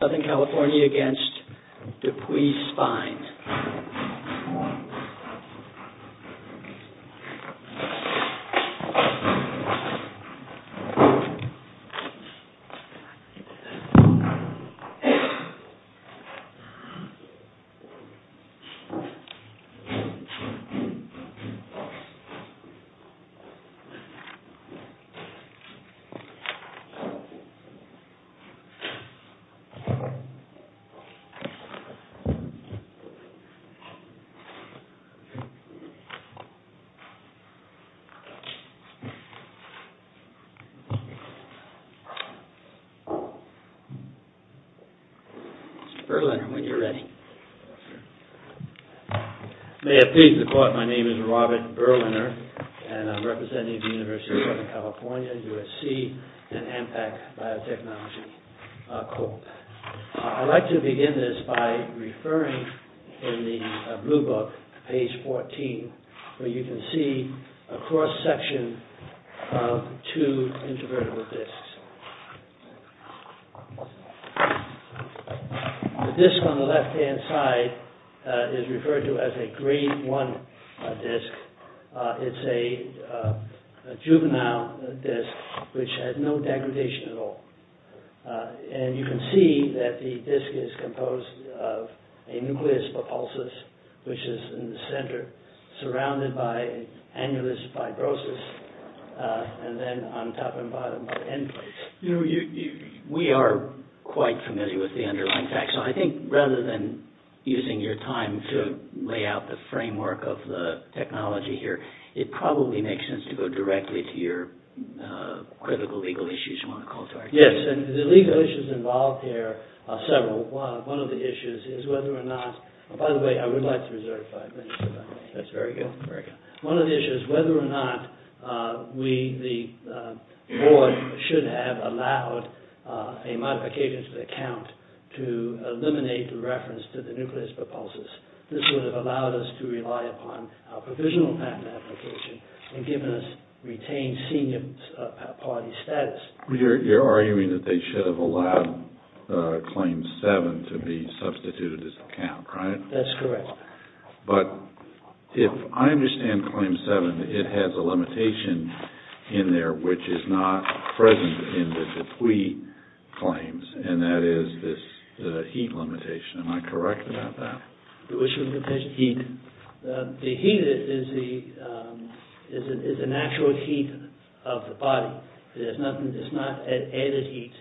SOUTHERN CALIFORNIA AGAINST DEPUY SPINE SOUTHERN CALIFORNIA AGAINST DEPUY SPINE Mr. Berliner, when you're ready. May it please the Court, my name is Robert Berliner, and I'm representing the University of Southern California, USC, and Ampac Biotechnology Corp. I'd like to begin this by referring in the blue book, page 14, where you can see a cross-section of two intervertebral disks. The disk on the left-hand side is referred to as a Grade I disk. It's a juvenile disk, which had no degradation at all. And you can see that the disk is composed of a nucleus papulsis, which is in the center, surrounded by annulus fibrosus, and then on top and bottom by end plates. We are quite familiar with the underlying facts, so I think rather than using your time to lay out the framework of the technology here, it probably makes sense to go directly to your critical legal issues you want to call to our attention. Yes, and the legal issues involved here are several. One of the issues is whether or not – by the way, I would like to reserve five minutes if I may. That's very good. One of the issues is whether or not we, the board, should have allowed a modification to the count to eliminate the reference to the nucleus papulsis. This would have allowed us to rely upon our provisional patent application and given us retained senior party status. You're arguing that they should have allowed Claim 7 to be substituted as a count, right? That's correct. But if I understand Claim 7, it has a limitation in there which is not present in the Dupuis claims, and that is this heat limitation. Am I correct about that? Which limitation? Heat. The heat is the natural heat of the body. It's not added heat.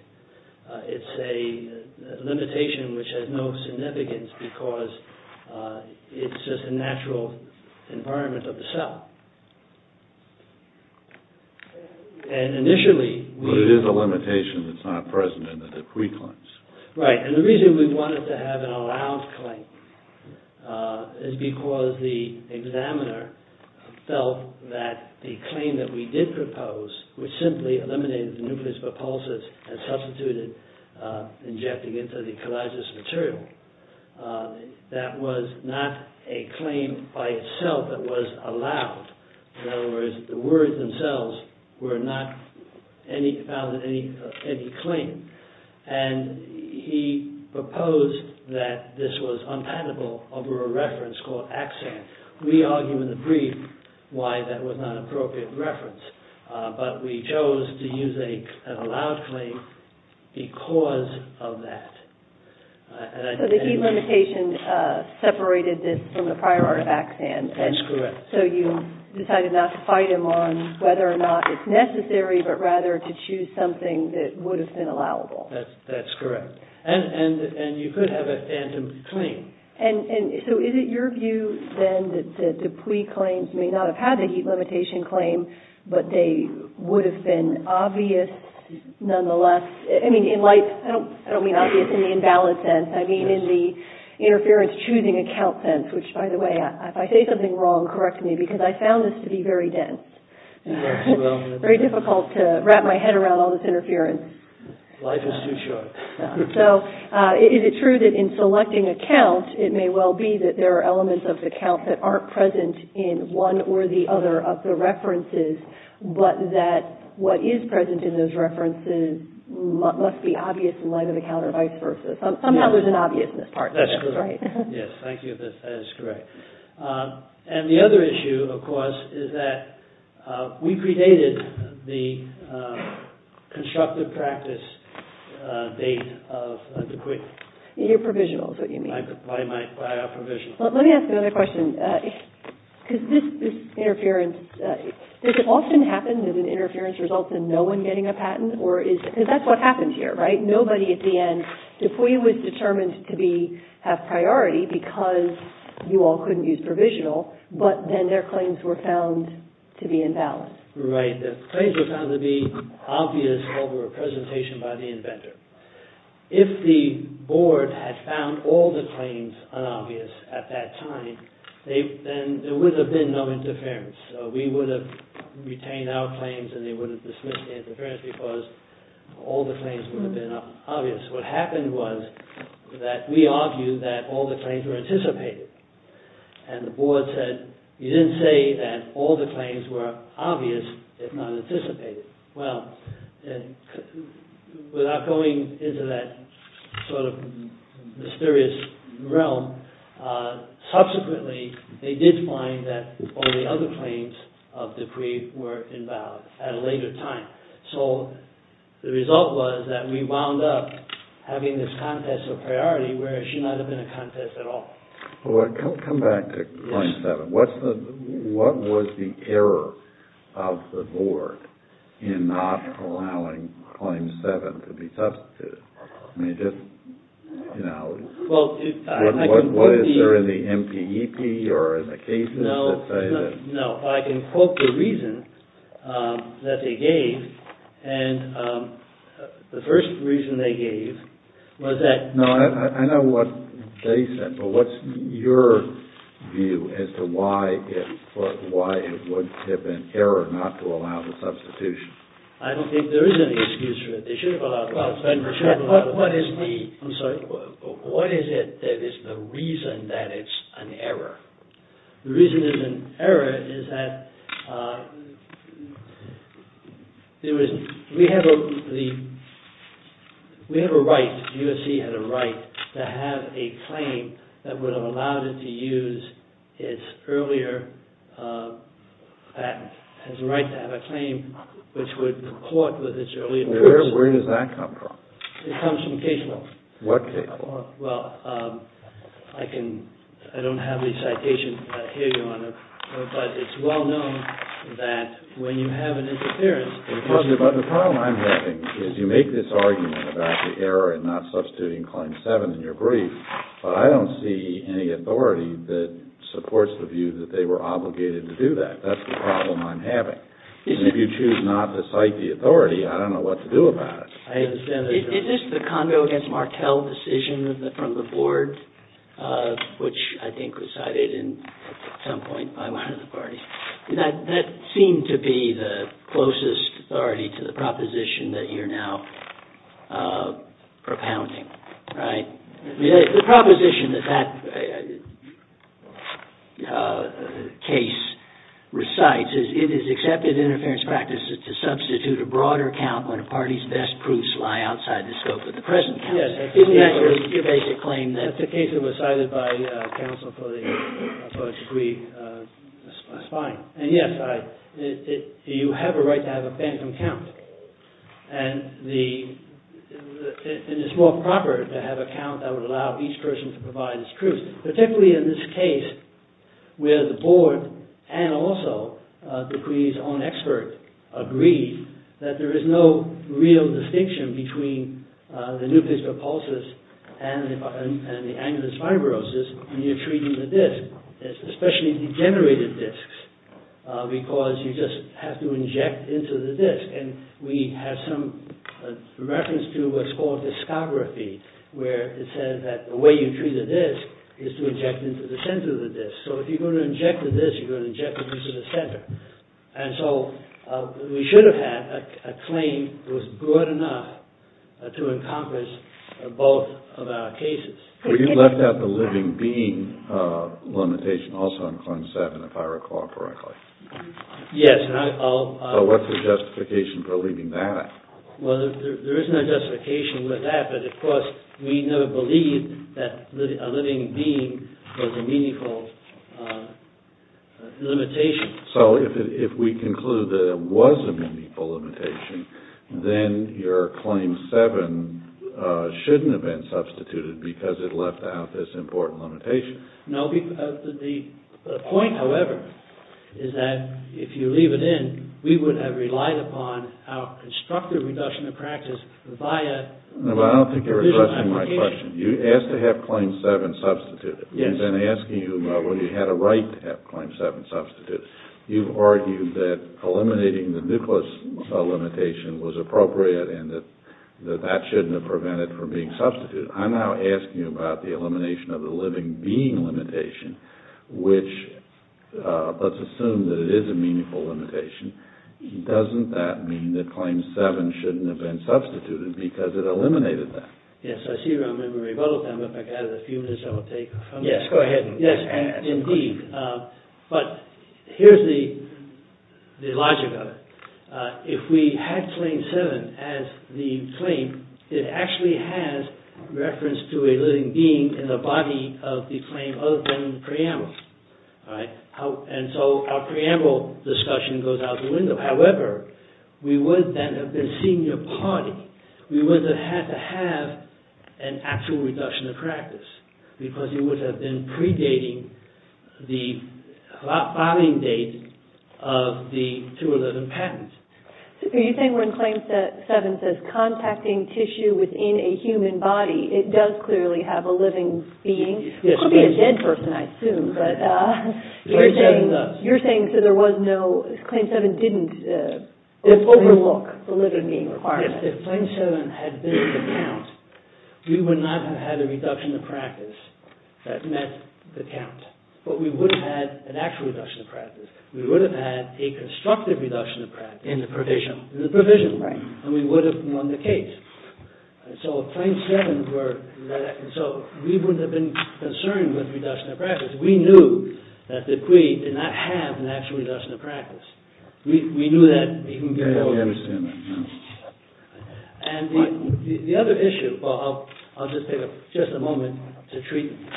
It's a limitation which has no significance because it's just a natural environment of the cell. And initially – But it is a limitation that's not present in the Dupuis claims. Right, and the reason we wanted to have an allowed claim is because the examiner felt that the claim that we did propose, which simply eliminated the nucleus papulsis and substituted, injecting it to the collagenous material, that was not a claim by itself that was allowed. In other words, the words themselves were not found in any claim. And he proposed that this was unpatentable over a reference called axan. We argue in the brief why that was not an appropriate reference, but we chose to use an allowed claim because of that. So the heat limitation separated this from the prior art of axan. That's correct. So you decided not to fight him on whether or not it's necessary, but rather to choose something that would have been allowable. That's correct. And you could have a phantom claim. So is it your view then that the Dupuis claims may not have had the heat limitation claim, but they would have been obvious nonetheless? I don't mean obvious in the invalid sense. I mean in the interference-choosing-account sense, which, by the way, if I say something wrong, correct me, because I found this to be very dense, very difficult to wrap my head around all this interference. Life is too short. So is it true that in selecting a count, it may well be that there are elements of the count that aren't present in one or the other of the references, but that what is present in those references must be obvious in light of the count or vice versa? Somehow there's an obviousness part to this, right? That's correct. Yes, thank you. That is correct. And the other issue, of course, is that we predated the constructive practice date of Dupuis. You're provisional is what you mean. I am provisional. Let me ask another question. Does it often happen that an interference results in no one getting a patent? Because that's what happens here, right? Nobody at the end, Dupuis was determined to have priority because you all couldn't use provisional, but then their claims were found to be invalid. Right. Their claims were found to be obvious over a presentation by the inventor. If the board had found all the claims unobvious at that time, then there would have been no interference. We would have retained our claims and they would have dismissed the interference because all the claims would have been obvious. What happened was that we argued that all the claims were anticipated and the board said, you didn't say that all the claims were obvious if not anticipated. Well, without going into that sort of mysterious realm, subsequently they did find that all the other claims of Dupuis were invalid at a later time. So the result was that we wound up having this contest of priority where it should not have been a contest at all. Come back to line seven. What was the error of the board in not allowing claim seven to be substituted? I mean, just, you know, what is there in the MPEP or in the cases that say that? No, I can quote the reason that they gave. And the first reason they gave was that... No, I know what they said, but what's your view as to why it would have been error not to allow the substitution? I don't think there is any excuse for it. They should have allowed the substitution. What is it that is the reason that it's an error? The reason it's an error is that we have a right, U.S.C. had a right to have a claim that would have allowed it to use its earlier patent, has the right to have a claim which would report with its earlier patent. Where does that come from? It comes from case law. What case law? Well, I don't have any citations here, Your Honor, but it's well known that when you have an interference... But the problem I'm having is you make this argument about the error in not substituting Claim 7 in your brief, but I don't see any authority that supports the view that they were obligated to do that. That's the problem I'm having. And if you choose not to cite the authority, I don't know what to do about it. Is this the Condo v. Martel decision from the board, which I think was cited at some point by one of the parties? That seemed to be the closest authority to the proposition that you're now propounding, right? The proposition that that case recites is, it is accepted in interference practices to substitute a broader count when a party's best proofs lie outside the scope of the present count. Isn't that your basic claim? And that's the case that was cited by counsel for the... That's fine. And yes, you have a right to have a phantom count. And it's more proper to have a count that would allow each person to provide its truth, particularly in this case where the board and also the query's own expert agreed that there is no real distinction between the nucleus repulses and the annulus fibrosis when you're treating the disc, especially degenerated discs, because you just have to inject into the disc. And we have some reference to what's called discography, where it says that the way you treat a disc is to inject into the center of the disc. So if you're going to inject the disc, you're going to inject it into the center. And so we should have had a claim that was broad enough to encompass both of our cases. But you left out the living being limitation also in Clause 7, if I recall correctly. Yes, and I'll... What's the justification for leaving that out? Well, there is no justification with that, but of course we never believed that a living being was a meaningful limitation. So if we conclude that it was a meaningful limitation, then your Claim 7 shouldn't have been substituted because it left out this important limitation. No, the point, however, is that if you leave it in, we would have relied upon our constructive reduction of practice via... No, I don't think you're addressing my question. You asked to have Claim 7 substituted. I've been asking you about whether you had a right to have Claim 7 substituted. You've argued that eliminating the nucleus limitation was appropriate and that that shouldn't have prevented it from being substituted. I'm now asking you about the elimination of the living being limitation, which let's assume that it is a meaningful limitation. Doesn't that mean that Claim 7 shouldn't have been substituted because it eliminated that? Yes, I see you're on memory. If I could have a few minutes, I would take... Yes, go ahead. Yes, indeed. But here's the logic of it. If we had Claim 7 as the claim, it actually has reference to a living being in the body of the claim other than the preamble. And so our preamble discussion goes out the window. However, we would then have been senior party. We would have had to have an actual reduction of practice because it would have been predating the filing date of the 211 patent. Are you saying when Claim 7 says contacting tissue within a human body, it does clearly have a living being? It could be a dead person, I assume. Claim 7 does. You're saying that Claim 7 didn't overlook the living being requirement. If Claim 7 had been the count, we would not have had a reduction of practice that met the count. But we would have had an actual reduction of practice. We would have had a constructive reduction of practice. In the provision. In the provision. Right. And we would have won the case. So if Claim 7 were... So we wouldn't have been concerned with reduction of practice. We knew that the plea did not have an actual reduction of practice. We knew that... And the other issue... I'll just take just a moment to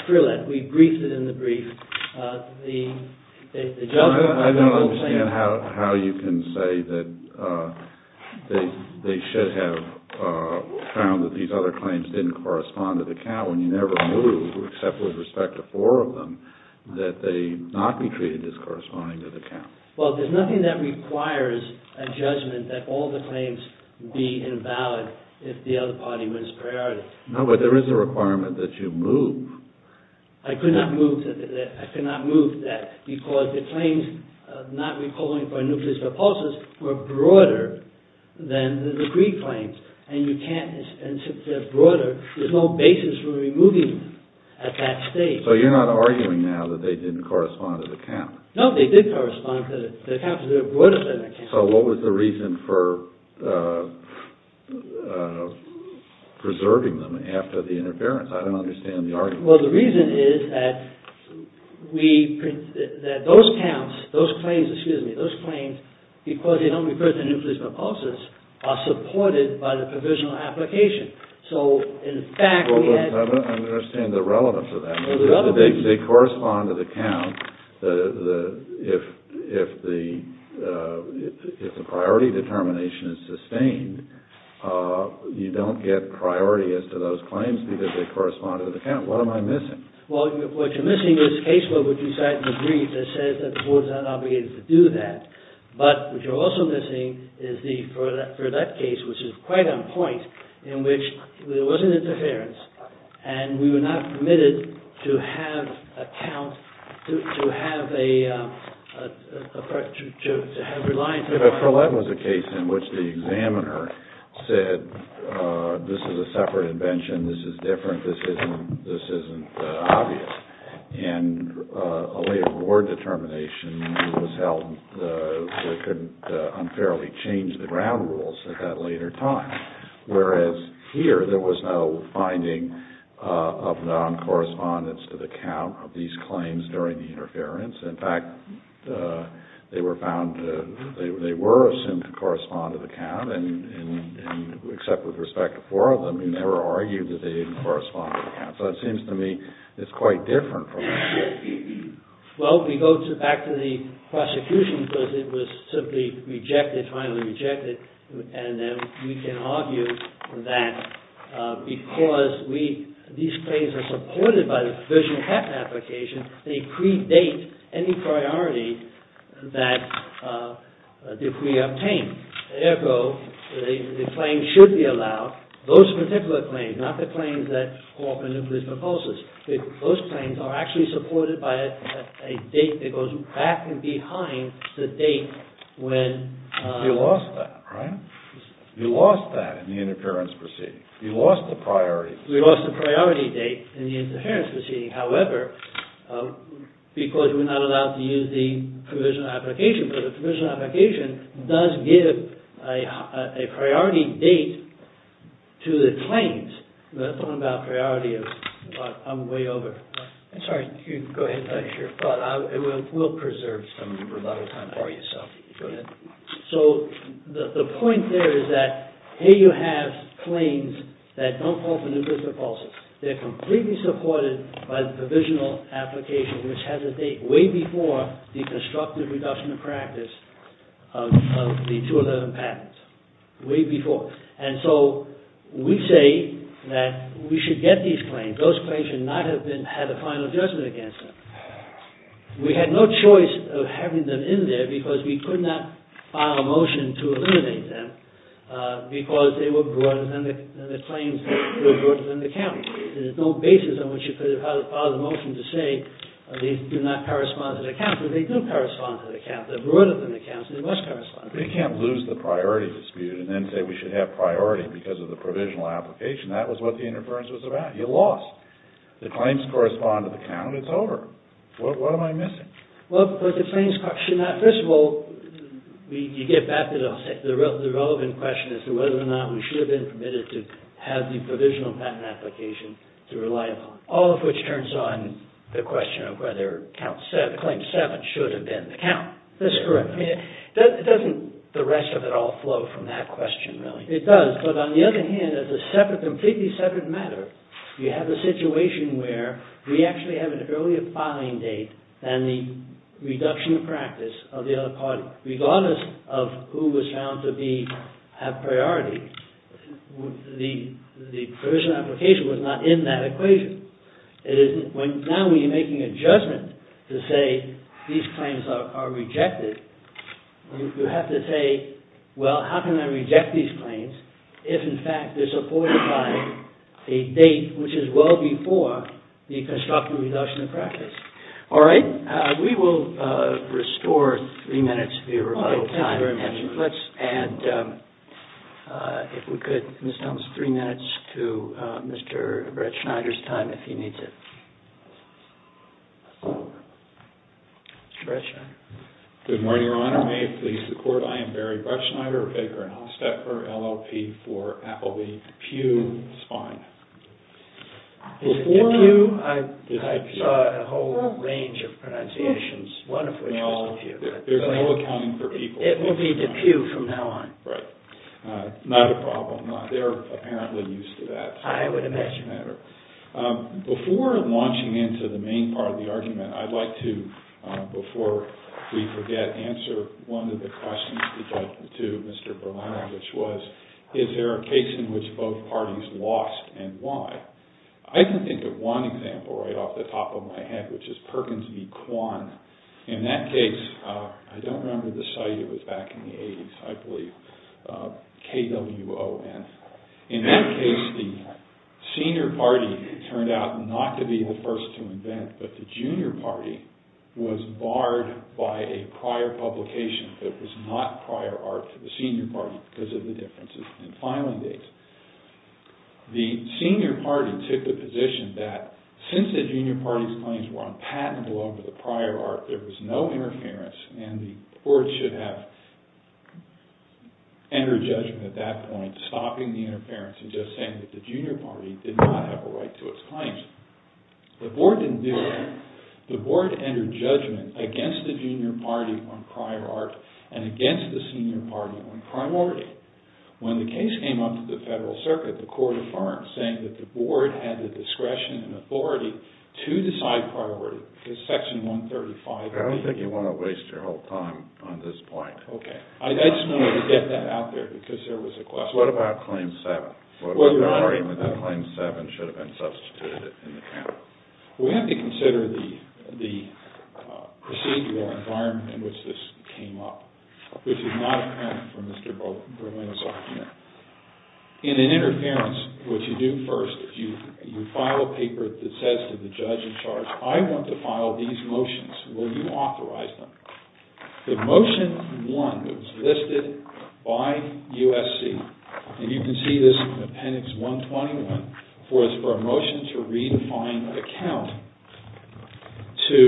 drill that. We briefed it in the brief. I don't understand how you can say that they should have found that these other claims didn't correspond to the count when you never knew, except with respect to four of them, that they not be treated as corresponding to the count. Well, there's nothing that requires a judgment that all the claims be invalid if the other party wins priority. No, but there is a requirement that you move. I could not move that because the claims not recalling for nucleus repulsus were broader than the degree claims. And you can't... And since they're broader, there's no basis for removing them at that stage. So you're not arguing now that they didn't correspond to the count? No, they did correspond to the count, but they're broader than the count. So what was the reason for preserving them after the interference? I don't understand the argument. Well, the reason is that those claims, because they don't refer to nucleus repulsus, are supported by the provisional application. So, in fact, we had... I don't understand the relevance of that. They correspond to the count. If the priority determination is sustained, you don't get priority as to those claims because they correspond to the count. What am I missing? Well, what you're missing is a case where we decide in the brief that says that the board is not obligated to do that. But what you're also missing is for that case, which is quite on point, in which there was an interference, and we were not permitted to have a count, to have a reliance on... But that was a case in which the examiner said, this is a separate invention, this is different, this isn't obvious. And a way of award determination was held that could unfairly change the ground rules at that later time. Whereas here, there was no finding of non-correspondence to the count of these claims during the interference. In fact, they were found to... They were assumed to correspond to the count, and except with respect to four of them, we never argued that they didn't correspond to the count. So it seems to me it's quite different from... Well, we go back to the prosecution because it was simply rejected, finally rejected, and then we can argue that because these claims are supported by the provisional application, they predate any priority that we obtain. Therefore, the claim should be allowed, those particular claims, not the claims that co-operate with these proposals. Those claims are actually supported by a date that goes back and behind the date when... You lost that in the interference proceeding. You lost the priority. We lost the priority date in the interference proceeding. However, because we're not allowed to use the provisional application, but the provisional application does give a priority date to the claims. That's what I'm talking about, priority. I'm way over. I'm sorry. Go ahead. We'll preserve some for another time for you. Go ahead. So the point there is that here you have claims that don't fall for new fiscal policies. They're completely supported by the provisional application, which has a date way before the constructive reduction of practice of the 211 patent. Way before. And so we say that we should get these claims. Those claims should not have had a final judgment against them. We had no choice of having them in there because we could not file a motion to eliminate them because they were broader than the claims were broader than the count. There's no basis on which you could have filed a motion to say these do not correspond to the count, but they do correspond to the count. They're broader than the count, so they must correspond to the count. We can't lose the priority dispute and then say we should have priority because of the provisional application. That was what the interference was about. You lost. The claims correspond to the count. It's over. What am I missing? Well, because the claims should not... First of all, you get back to the relevant question as to whether or not we should have been permitted to have the provisional patent application to rely upon, all of which turns on the question of whether claim seven should have been the count. That's correct. I mean, doesn't the rest of it all flow from that question, really? It does, but on the other hand, as a completely separate matter, you have a situation where we actually have an earlier filing date than the reduction of practice of the other party, regardless of who was found to have priority. The provisional application was not in that equation. Now, when you're making a judgment to say these claims are rejected, you have to say, well, how can I reject these claims if, in fact, they're supported by a date which is well before the constructive reduction of practice? All right. We will restore three minutes of your time. Let's add, if we could, Ms. Thompson, three minutes to Mr. Brettschneider's time if he needs it. Mr. Brettschneider. Good morning, Your Honor. May it please the Court, I am Barry Brettschneider, Baker & Hosteper, LLP for Appleby DePue Spine. DePue? I saw a whole range of pronunciations, one of which was DePue. There's no accounting for people. It will be DePue from now on. Right. Not a problem. They're apparently used to that. I would imagine. Before launching into the main part of the argument, I'd like to, before we forget, answer one of the questions to Mr. Berliner, which was, is there a case in which both parties lost and why? I can think of one example right off the top of my head, which is Perkins v. Kwan. In that case, I don't remember the site. It was back in the 80s, I believe. K-W-O-N. In that case, the senior party turned out not to be the first to invent, but the junior party was barred by a prior publication that was not prior art to the senior party because of the differences in filing dates. The senior party took the position that since the junior party's claims were unpatentable over the prior art, there was no interference and the board should have entered judgment at that point, stopping the interference and just saying that the junior party did not have a right to its claims. The board didn't do that. The board entered judgment against the junior party on prior art and against the senior party on priority. When the case came up to the federal circuit, the court affirmed, saying that the board had the discretion and authority to decide priority because Section 135 of the- I don't think you want to waste your whole time on this point. Okay. I just wanted to get that out there because there was a question. What about Claim 7? What was the argument that Claim 7 should have been substituted in the count? We have to consider the procedural environment in which this came up, which is not apparent from Mr. Berlin's argument. In an interference, what you do first is you file a paper that says to the judge in charge, I want to file these motions. Will you authorize them? The Motion 1 that was listed by USC, and you can see this in Appendix 121, was for a motion to redefine the count to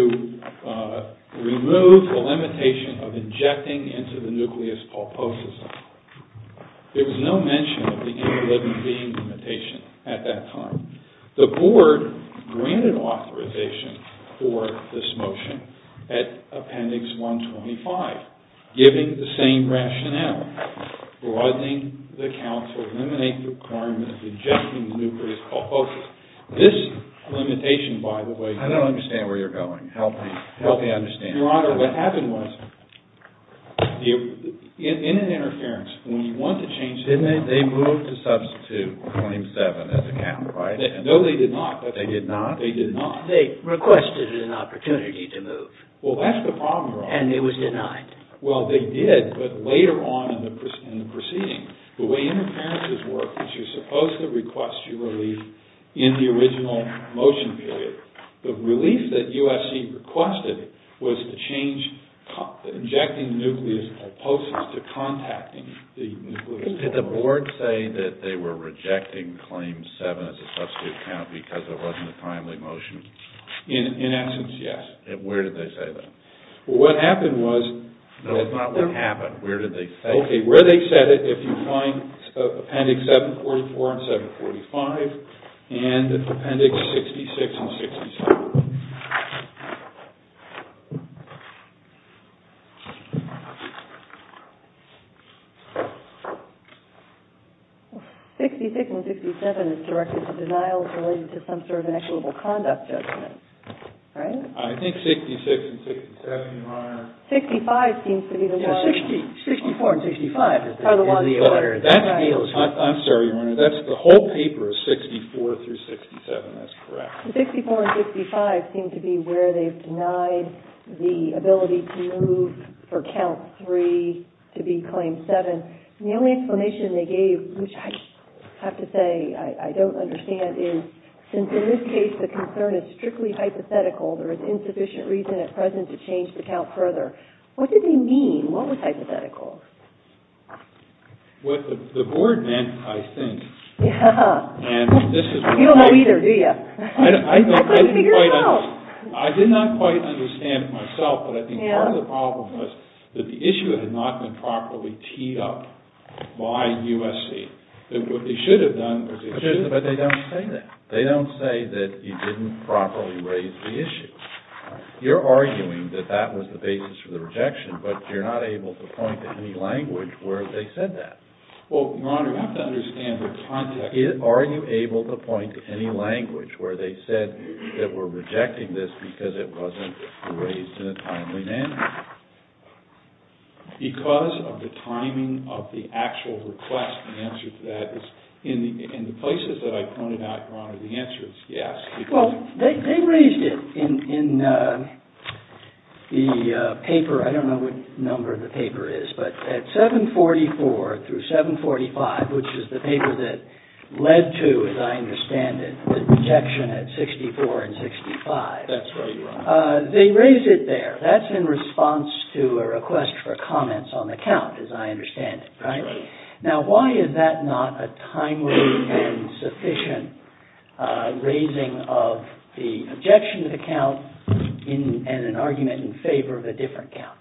remove the limitation of injecting into the nucleus pulposus. There was no mention of the interliving being limitation at that time. The board granted authorization for this motion at Appendix 125, giving the same rationale, causing the count to eliminate the requirement of injecting the nucleus pulposus. This limitation, by the way- I don't understand where you're going. Help me understand. Your Honor, what happened was, in an interference, when you want to change- Didn't they move to substitute Claim 7 as a count, right? No, they did not. They did not? They did not. They requested an opportunity to move. Well, that's the problem, Your Honor. And it was denied. Well, they did, but later on in the proceeding, the way interferences work is you're supposed to request your relief in the original motion period. The relief that USC requested was to change injecting nucleus pulposus to contacting the nucleus pulposus. Did the board say that they were rejecting Claim 7 as a substitute count because it wasn't a timely motion? In essence, yes. Where did they say that? Well, what happened was- No, that's not what happened. Where did they say that? Okay, where they said it, if you find Appendix 744 and 745 and Appendix 66 and 67. 66 and 67 is directed to denials related to some sort of inexorable conduct judgment, right? I think 66 and 67, Your Honor. 65 seems to be the one. 64 and 65 is the one. I'm sorry, Your Honor. The whole paper is 64 through 67. That's correct. 64 and 65 seem to be where they've denied the ability to move for Count 3 to be Claim 7. And the only explanation they gave, which I have to say I don't understand, is since in this case the concern is strictly hypothetical, there is insufficient reason at present to change the count further, what did they mean? What was hypothetical? What the board meant, I think- Yeah. You don't know either, do you? I couldn't figure it out. I did not quite understand it myself, but I think part of the problem was that the issue had not been properly teed up by USC. What they should have done- But they don't say that. They don't say that you didn't properly raise the issue. You're arguing that that was the basis for the rejection, but you're not able to point to any language where they said that. Well, Your Honor, you have to understand the context. Are you able to point to any language where they said that we're rejecting this because it wasn't raised in a timely manner? Because of the timing of the actual request, the answer to that is in the places that I pointed out, Your Honor, the answer is yes. Well, they raised it in the paper. I don't know what number the paper is, but at 744 through 745, which is the paper that led to, as I understand it, the rejection at 64 and 65. That's right, Your Honor. They raised it there. That's in response to a request for comments on the count, as I understand it, right? Right. Now, why is that not a timely and sufficient raising of the objection to the count and an argument in favor of a different count?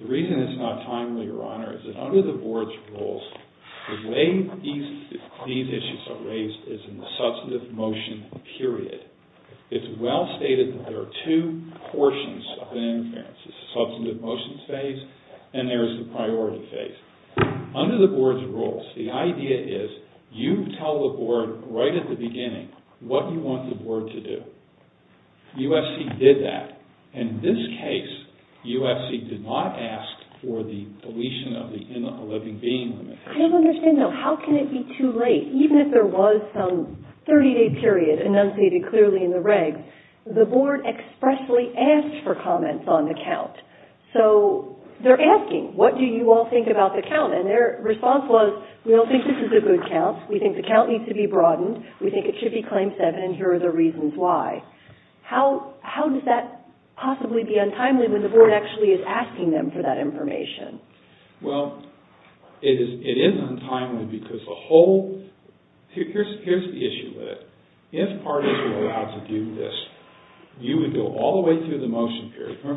The reason it's not timely, Your Honor, is that under the Board's rules, the way these issues are raised is in the substantive motion period. It's well stated that there are two portions of an interference. There's the substantive motion phase and there's the priority phase. Under the Board's rules, the idea is you tell the Board right at the beginning what you want the Board to do. USC did that. In this case, USC did not ask for the deletion of the in a living being limit. I don't understand, though. How can it be too late? Even if there was some 30-day period enunciated clearly in the regs, the Board expressly asked for comments on the count. So they're asking, what do you all think about the count? And their response was, we don't think this is a good count. We think the count needs to be broadened. We think it should be Claim 7, and here are the reasons why. How does that possibly be untimely when the Board actually is asking them for that information? Well, it is untimely because the whole – here's the issue with it. If parties were allowed to do this, you would go all the way through the motion period. If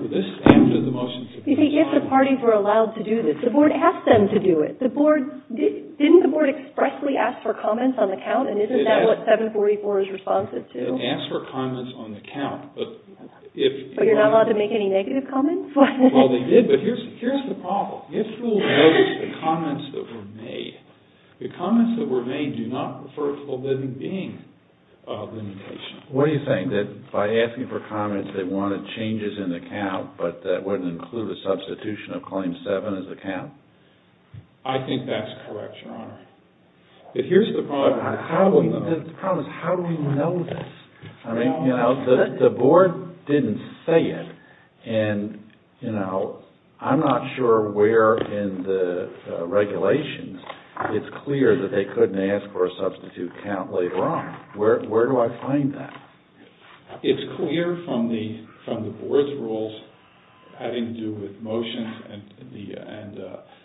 the parties were allowed to do this, the Board asked them to do it. Didn't the Board expressly ask for comments on the count, and isn't that what 744 is responsive to? It asked for comments on the count. But you're not allowed to make any negative comments? Well, they did, but here's the problem. If you'll notice the comments that were made, the comments that were made do not refer to a living being limitation. What are you saying, that by asking for comments, they wanted changes in the count, but that wouldn't include a substitution of Claim 7 as a count? I think that's correct, Your Honor. But here's the problem. The problem is, how do we know this? I mean, you know, the Board didn't say it, and, you know, I'm not sure where in the regulations it's clear that they couldn't ask for a substitute count later on. Where do I find that? It's clear from the Board's rules having to do with motions and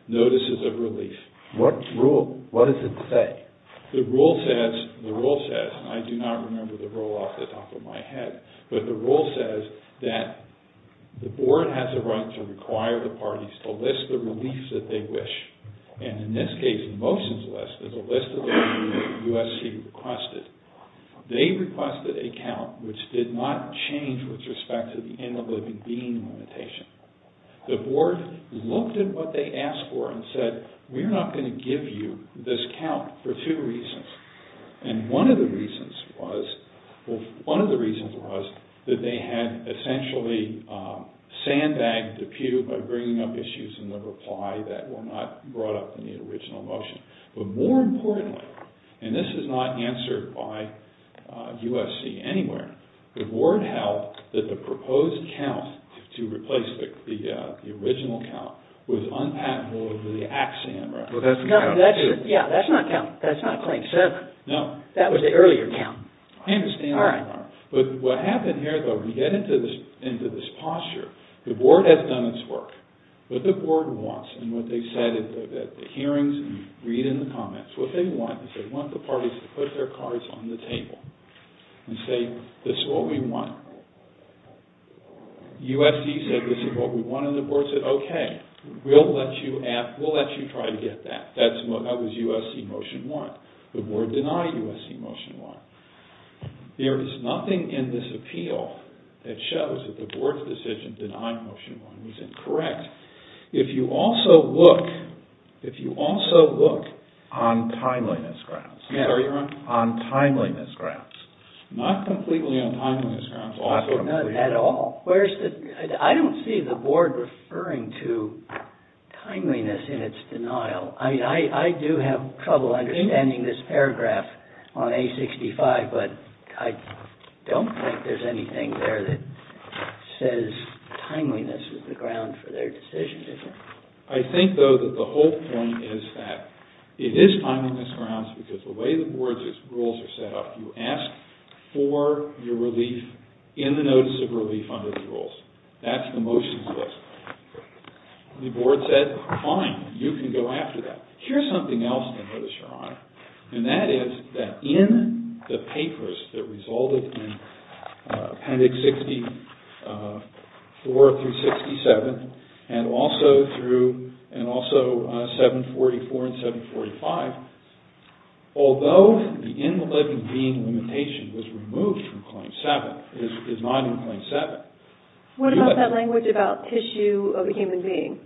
notices of release. What rule? What does it say? The rule says, and I do not remember the rule off the top of my head, but the rule says that the Board has a right to require the parties to list the reliefs that they wish. And in this case, the motions list is a list of the reliefs that USC requested. They requested a count which did not change with respect to the end-of-living being limitation. The Board looked at what they asked for and said, we're not going to give you this count for two reasons. And one of the reasons was, well, one of the reasons was that they had essentially sandbagged the pew by bringing up issues in the reply that were not brought up in the original motion. But more importantly, and this is not answered by USC anywhere, the Board held that the proposed count to replace the original count was unpatentable under the Act Sandra. Well, that's not a count. Yeah, that's not a count. That's not a claim. No. That was the earlier count. I understand that. All right. But what happened here, though, we get into this posture. The Board has done its work. What the Board wants, and what they said at the hearings, read in the comments, what they want is they want the parties to put their cards on the table and say, this is what we want. USC said this is what we want, and the Board said, okay, we'll let you try to get that. That was USC motion one. The Board denied USC motion one. There is nothing in this appeal that shows that the Board's decision to deny motion one was incorrect. If you also look on timeliness grounds. Sorry, your Honor? On timeliness grounds. Not completely on timeliness grounds. Not at all. I don't see the Board referring to timeliness in its denial. I mean, I do have trouble understanding this paragraph on A65, but I don't think there's anything there that says timeliness is the ground for their decision. I think, though, that the whole point is that it is timeliness grounds because the way the Board's rules are set up, you ask for your relief in the notice of relief under the rules. That's the motions list. The Board said, fine, you can go after that. Here's something else that I noticed, your Honor, and that is that in the papers that resulted in appendix 64 through 67, and also 744 and 745, although the in-the-living-being limitation was removed from claim seven, it is not in claim seven. What about that language about tissue of a human being?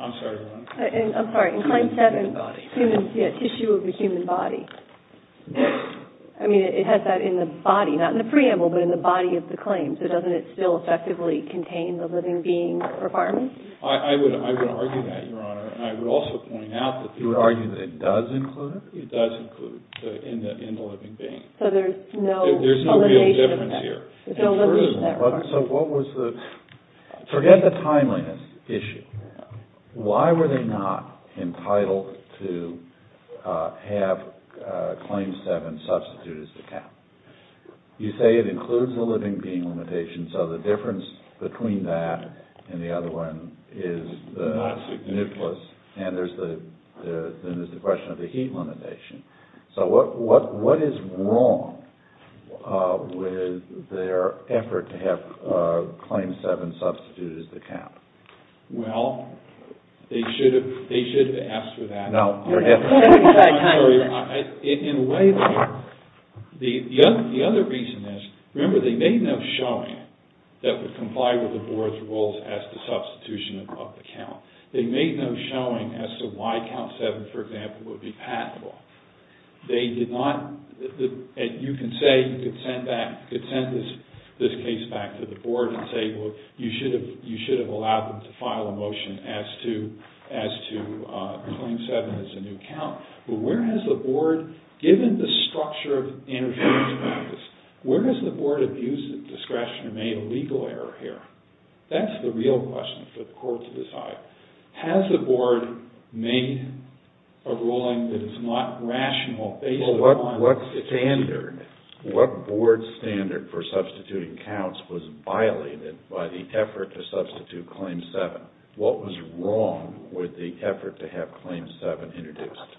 I'm sorry, your Honor? I'm sorry. In claim seven, yeah, tissue of a human body. I mean, it has that in the body, not in the preamble, but in the body of the claim. So doesn't it still effectively contain the living being requirement? I would argue that, your Honor. And I would also point out that the... You would argue that it does include it? It does include the in-the-living-being. So there's no elimination of that. There's no real difference here. So what was the... Forget the timeliness issue. Why were they not entitled to have claim seven substituted as the cap? You say it includes the living being limitation, so the difference between that and the other one is the nucleus, and there's the question of the heat limitation. So what is wrong with their effort to have claim seven substituted as the cap? Well, they should have asked for that. No, forget that. In a way, the other reason is, remember, they made no showing that would comply with the Board's rules as to substitution of the count. They made no showing as to why count seven, for example, would be patentable. They did not... You can say you could send this case back to the Board and say, well, you should have allowed them to file a motion as to claim seven as a new count. But where has the Board, given the structure of interference practice, where has the Board abused its discretion and made a legal error here? That's the real question for the Court to decide. Has the Board made a ruling that is not rational based upon... Well, what standard, what Board standard for substituting counts was violated by the effort to substitute claim seven? What was wrong with the effort to have claim seven introduced?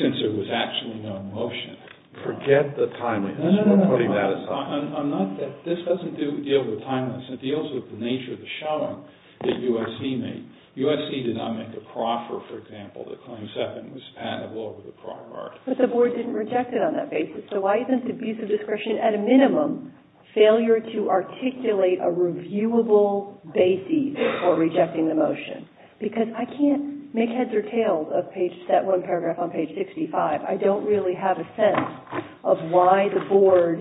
Since there was actually no motion. Forget the timeliness. No, no, no. We're putting that aside. This doesn't deal with timeliness. It deals with the nature of the showing that USC made. USC did not make a Crawford, for example, that claims seven was patentable over the Crawford. But the Board didn't reject it on that basis. So why isn't abusive discretion, at a minimum, failure to articulate a reviewable basis for rejecting the motion? Because I can't make heads or tails of that one paragraph on page 65. I don't really have a sense of why the Board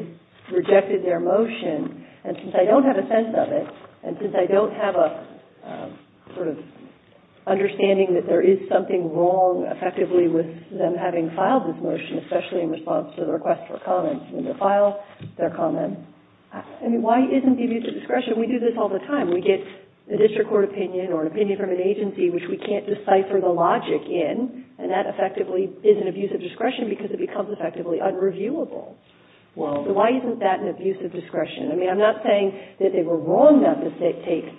rejected their motion. And since I don't have a sense of it, and since I don't have a sort of understanding that there is something wrong, effectively, with them having filed this motion, especially in response to the request for comments, when they file their comment, I mean, why isn't the abuse of discretion? We do this all the time. We get a district court opinion or an opinion from an agency which we can't decipher the logic in, and that effectively is an abuse of discretion because it becomes effectively unreviewable. So why isn't that an abuse of discretion? I mean, I'm not saying that they were wrong not to take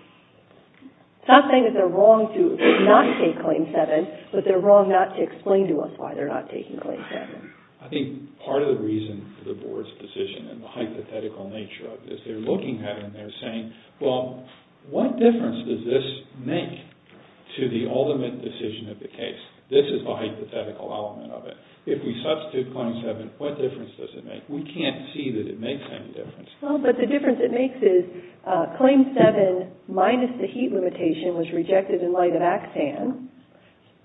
– I'm not saying that they're wrong to not take claim seven, but they're wrong not to explain to us why they're not taking claim seven. I think part of the reason for the Board's decision and the hypothetical nature of this, they're looking at it and they're saying, Well, what difference does this make to the ultimate decision of the case? This is the hypothetical element of it. If we substitute claim seven, what difference does it make? We can't see that it makes any difference. Well, but the difference it makes is claim seven minus the heat limitation was rejected in light of AXAN,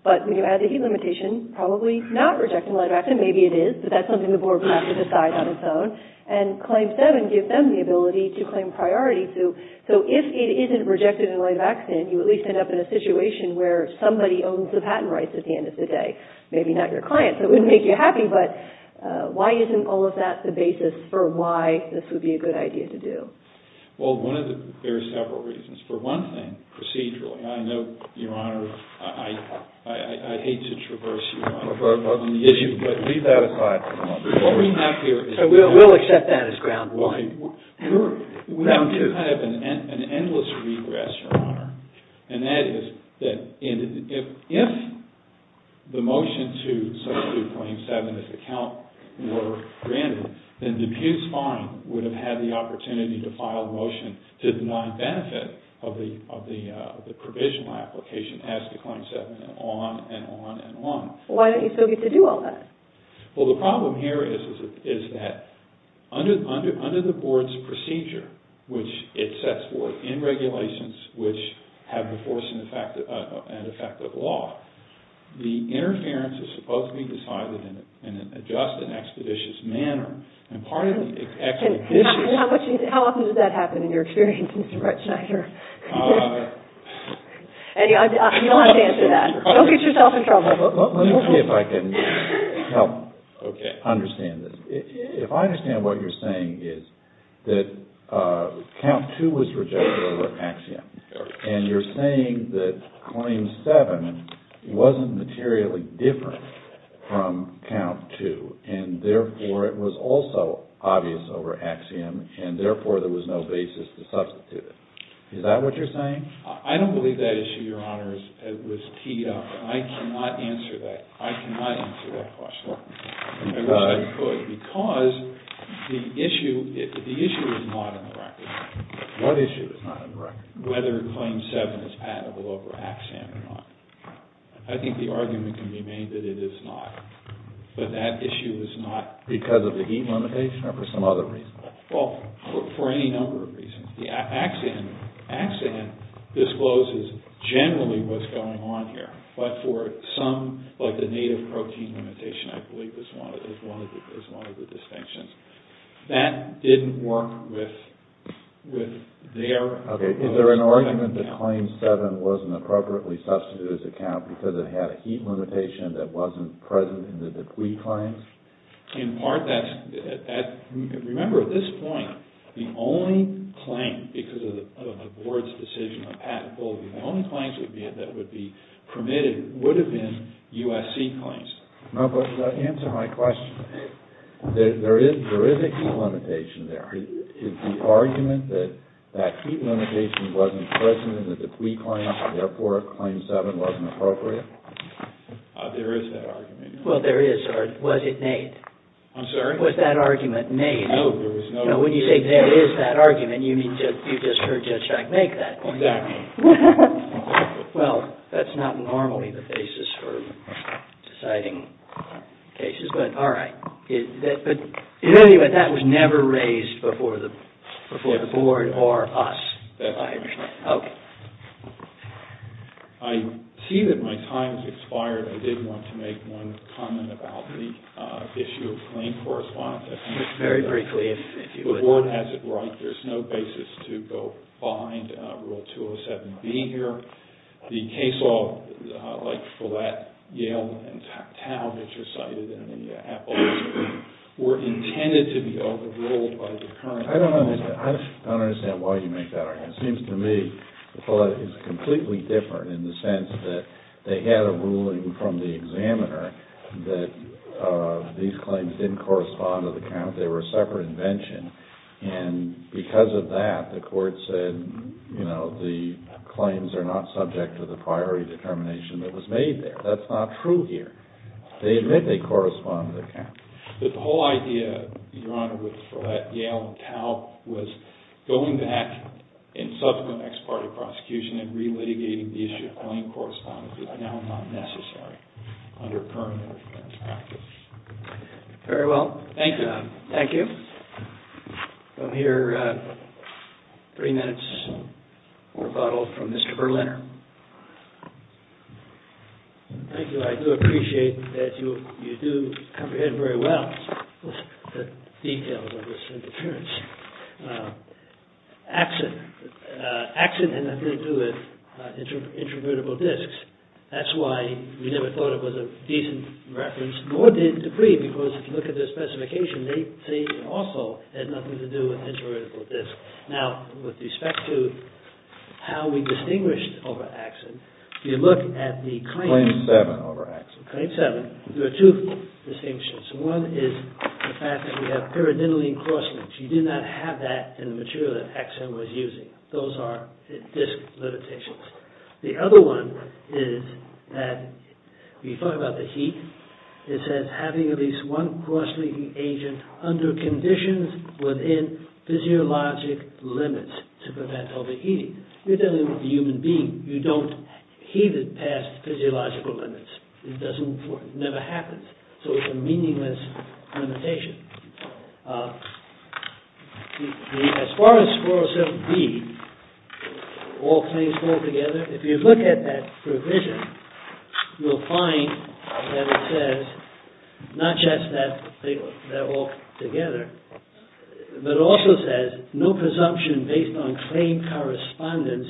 but when you add the heat limitation, probably not rejected in light of AXAN. Maybe it is, but that's something the Board will have to decide on its own. And claim seven gives them the ability to claim priority. So if it isn't rejected in light of AXAN, you at least end up in a situation where somebody owns the patent rights at the end of the day. Maybe not your client, so it wouldn't make you happy, but why isn't all of that the basis for why this would be a good idea to do? Well, there are several reasons. For one thing, procedurally, I know, Your Honor, I hate to traverse you on the issue, but leave that aside for a moment. So we'll accept that as ground one. We have kind of an endless regress, Your Honor, and that is that if the motion to substitute claim seven as a count were granted, then Dubuque's fine would have had the opportunity to file a motion to deny benefit of the provisional application as to claim seven and on and on and on. Why don't you still get to do all that? Well, the problem here is that under the Board's procedure, which it sets forth in regulations, which have the force and effect of law, the interference is supposed to be decided in a just and expeditious manner, and part of the expeditious... How often does that happen in your experience, Mr. Bretschneider? You don't have to answer that. Don't get yourself in trouble. Let me see if I can help understand this. If I understand what you're saying is that count two was rejected over axiom, and you're saying that claim seven wasn't materially different from count two, and therefore it was also obvious over axiom, and therefore there was no basis to substitute it. Is that what you're saying? I don't believe that issue, Your Honor. It was teed up. I cannot answer that. I cannot answer that question, because the issue is not on the record. What issue is not on the record? Whether claim seven is patentable over axiom or not. I think the argument can be made that it is not, but that issue is not. Because of the heat limitation or for some other reason? Well, for any number of reasons. The axiom discloses generally what's going on here, but for some, like the native protein limitation, I believe is one of the distinctions. That didn't work with their proposal. Okay. Is there an argument that claim seven wasn't appropriately substituted as a count because it had a heat limitation that wasn't present in the Dupuis claims? In part, that's – remember, at this point, the only claim, because of the Board's decision of patentability, the only claims that would be permitted would have been USC claims. No, but to answer my question, there is a heat limitation there. Is the argument that that heat limitation wasn't present in the Dupuis claims and therefore claim seven wasn't appropriate? There is that argument. Well, there is. Or was it made? I'm sorry? Was that argument made? No, there was no – No, when you say there is that argument, you mean you just heard Judge Strack make that point. Exactly. Well, that's not normally the basis for deciding cases, but all right. But anyway, that was never raised before the Board or us. I see that my time has expired. I did want to make one comment about the issue of claim correspondence. Very briefly, if you would. The Board has it right. There's no basis to go behind Rule 207B here. The case law, like Follett, Yale, and Tao, which are cited in the Appellate Supreme, were intended to be overruled by the current – I don't understand. I don't understand why you make that argument. It seems to me that Follett is completely different in the sense that they had a ruling from the examiner that these claims didn't correspond to the count. They were a separate invention, and because of that, the Court said, you know, the claims are not subject to the prior determination that was made there. That's not true here. They admit they correspond to the count. But the whole idea, Your Honor, with Follett, Yale, and Tao, was going back in subsequent ex parte prosecution and relitigating the issue of claim correspondence is now not necessary under current interference practice. Very well. Thank you, Your Honor. Thank you. From here, three minutes rebuttal from Mr. Berliner. Thank you. I do appreciate that you do comprehend very well the details of this interference. Accident had nothing to do with intravertebral discs. That's why we never thought it was a decent reference, nor did Dupree, because if you look at the specification, they also had nothing to do with intravertebral discs. Now, with respect to how we distinguished over accident, if you look at the claims— Claim 7 over accident. Claim 7, there are two distinctions. One is the fact that we have pyridinylene crosslinks. You did not have that in the material that accident was using. Those are disc limitations. The other one is that, when you talk about the heat, it says having at least one crosslinking agent under conditions within physiologic limits to prevent overheating. You're talking about the human being. You don't heat it past physiological limits. It doesn't work. It never happens. So it's a meaningless limitation. As far as 407B, all claims fall together, if you look at that provision, you'll find that it says, not just that they're all together, but it also says no presumption based on claim correspondence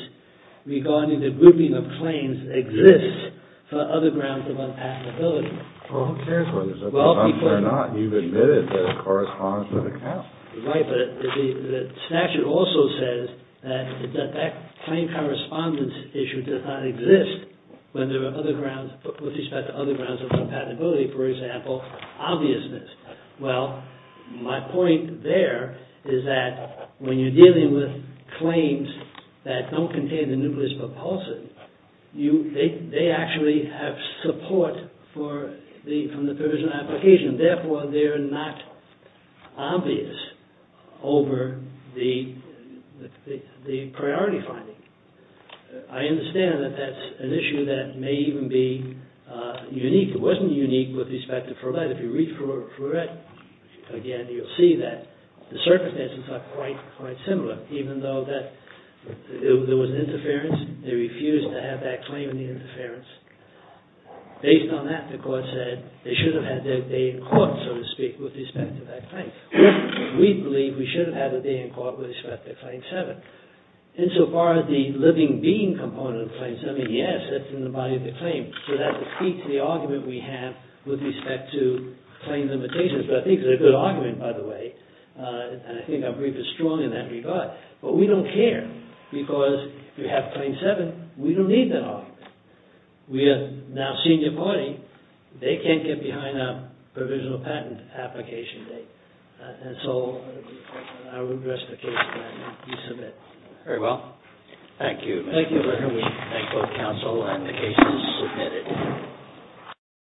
regarding the grouping of claims exists for other grounds of unpassability. Well, who cares whether it's presumption or not? You've admitted that it corresponds with accounts. Right, but the statute also says that that claim correspondence issue does not exist with respect to other grounds of compatibility. For example, obviousness. Well, my point there is that when you're dealing with claims that don't contain the nucleus propulsive, they actually have support from the provision application. Therefore, they're not obvious over the priority finding. I understand that that's an issue that may even be unique. It wasn't unique with respect to Furet. If you read Furet again, you'll see that the circumstances are quite similar. Even though there was interference, they refused to have that claim in the interference. Based on that, the court said they should have had their day in court, so to speak, with respect to that claim. We believe we should have had a day in court with respect to Claim 7. Insofar as the living being component of Claim 7, yes, that's in the body of the claim. So that defeats the argument we have with respect to claim limitations. But I think it's a good argument, by the way, and I think our brief is strong in that regard. But we don't care because if you have Claim 7, we don't need that argument. We are now senior party. They can't get behind our provisional patent application date. And so I would address the case plan piece of it. Very well. Thank you. Thank you for having me. Thank both counsel and the cases submitted.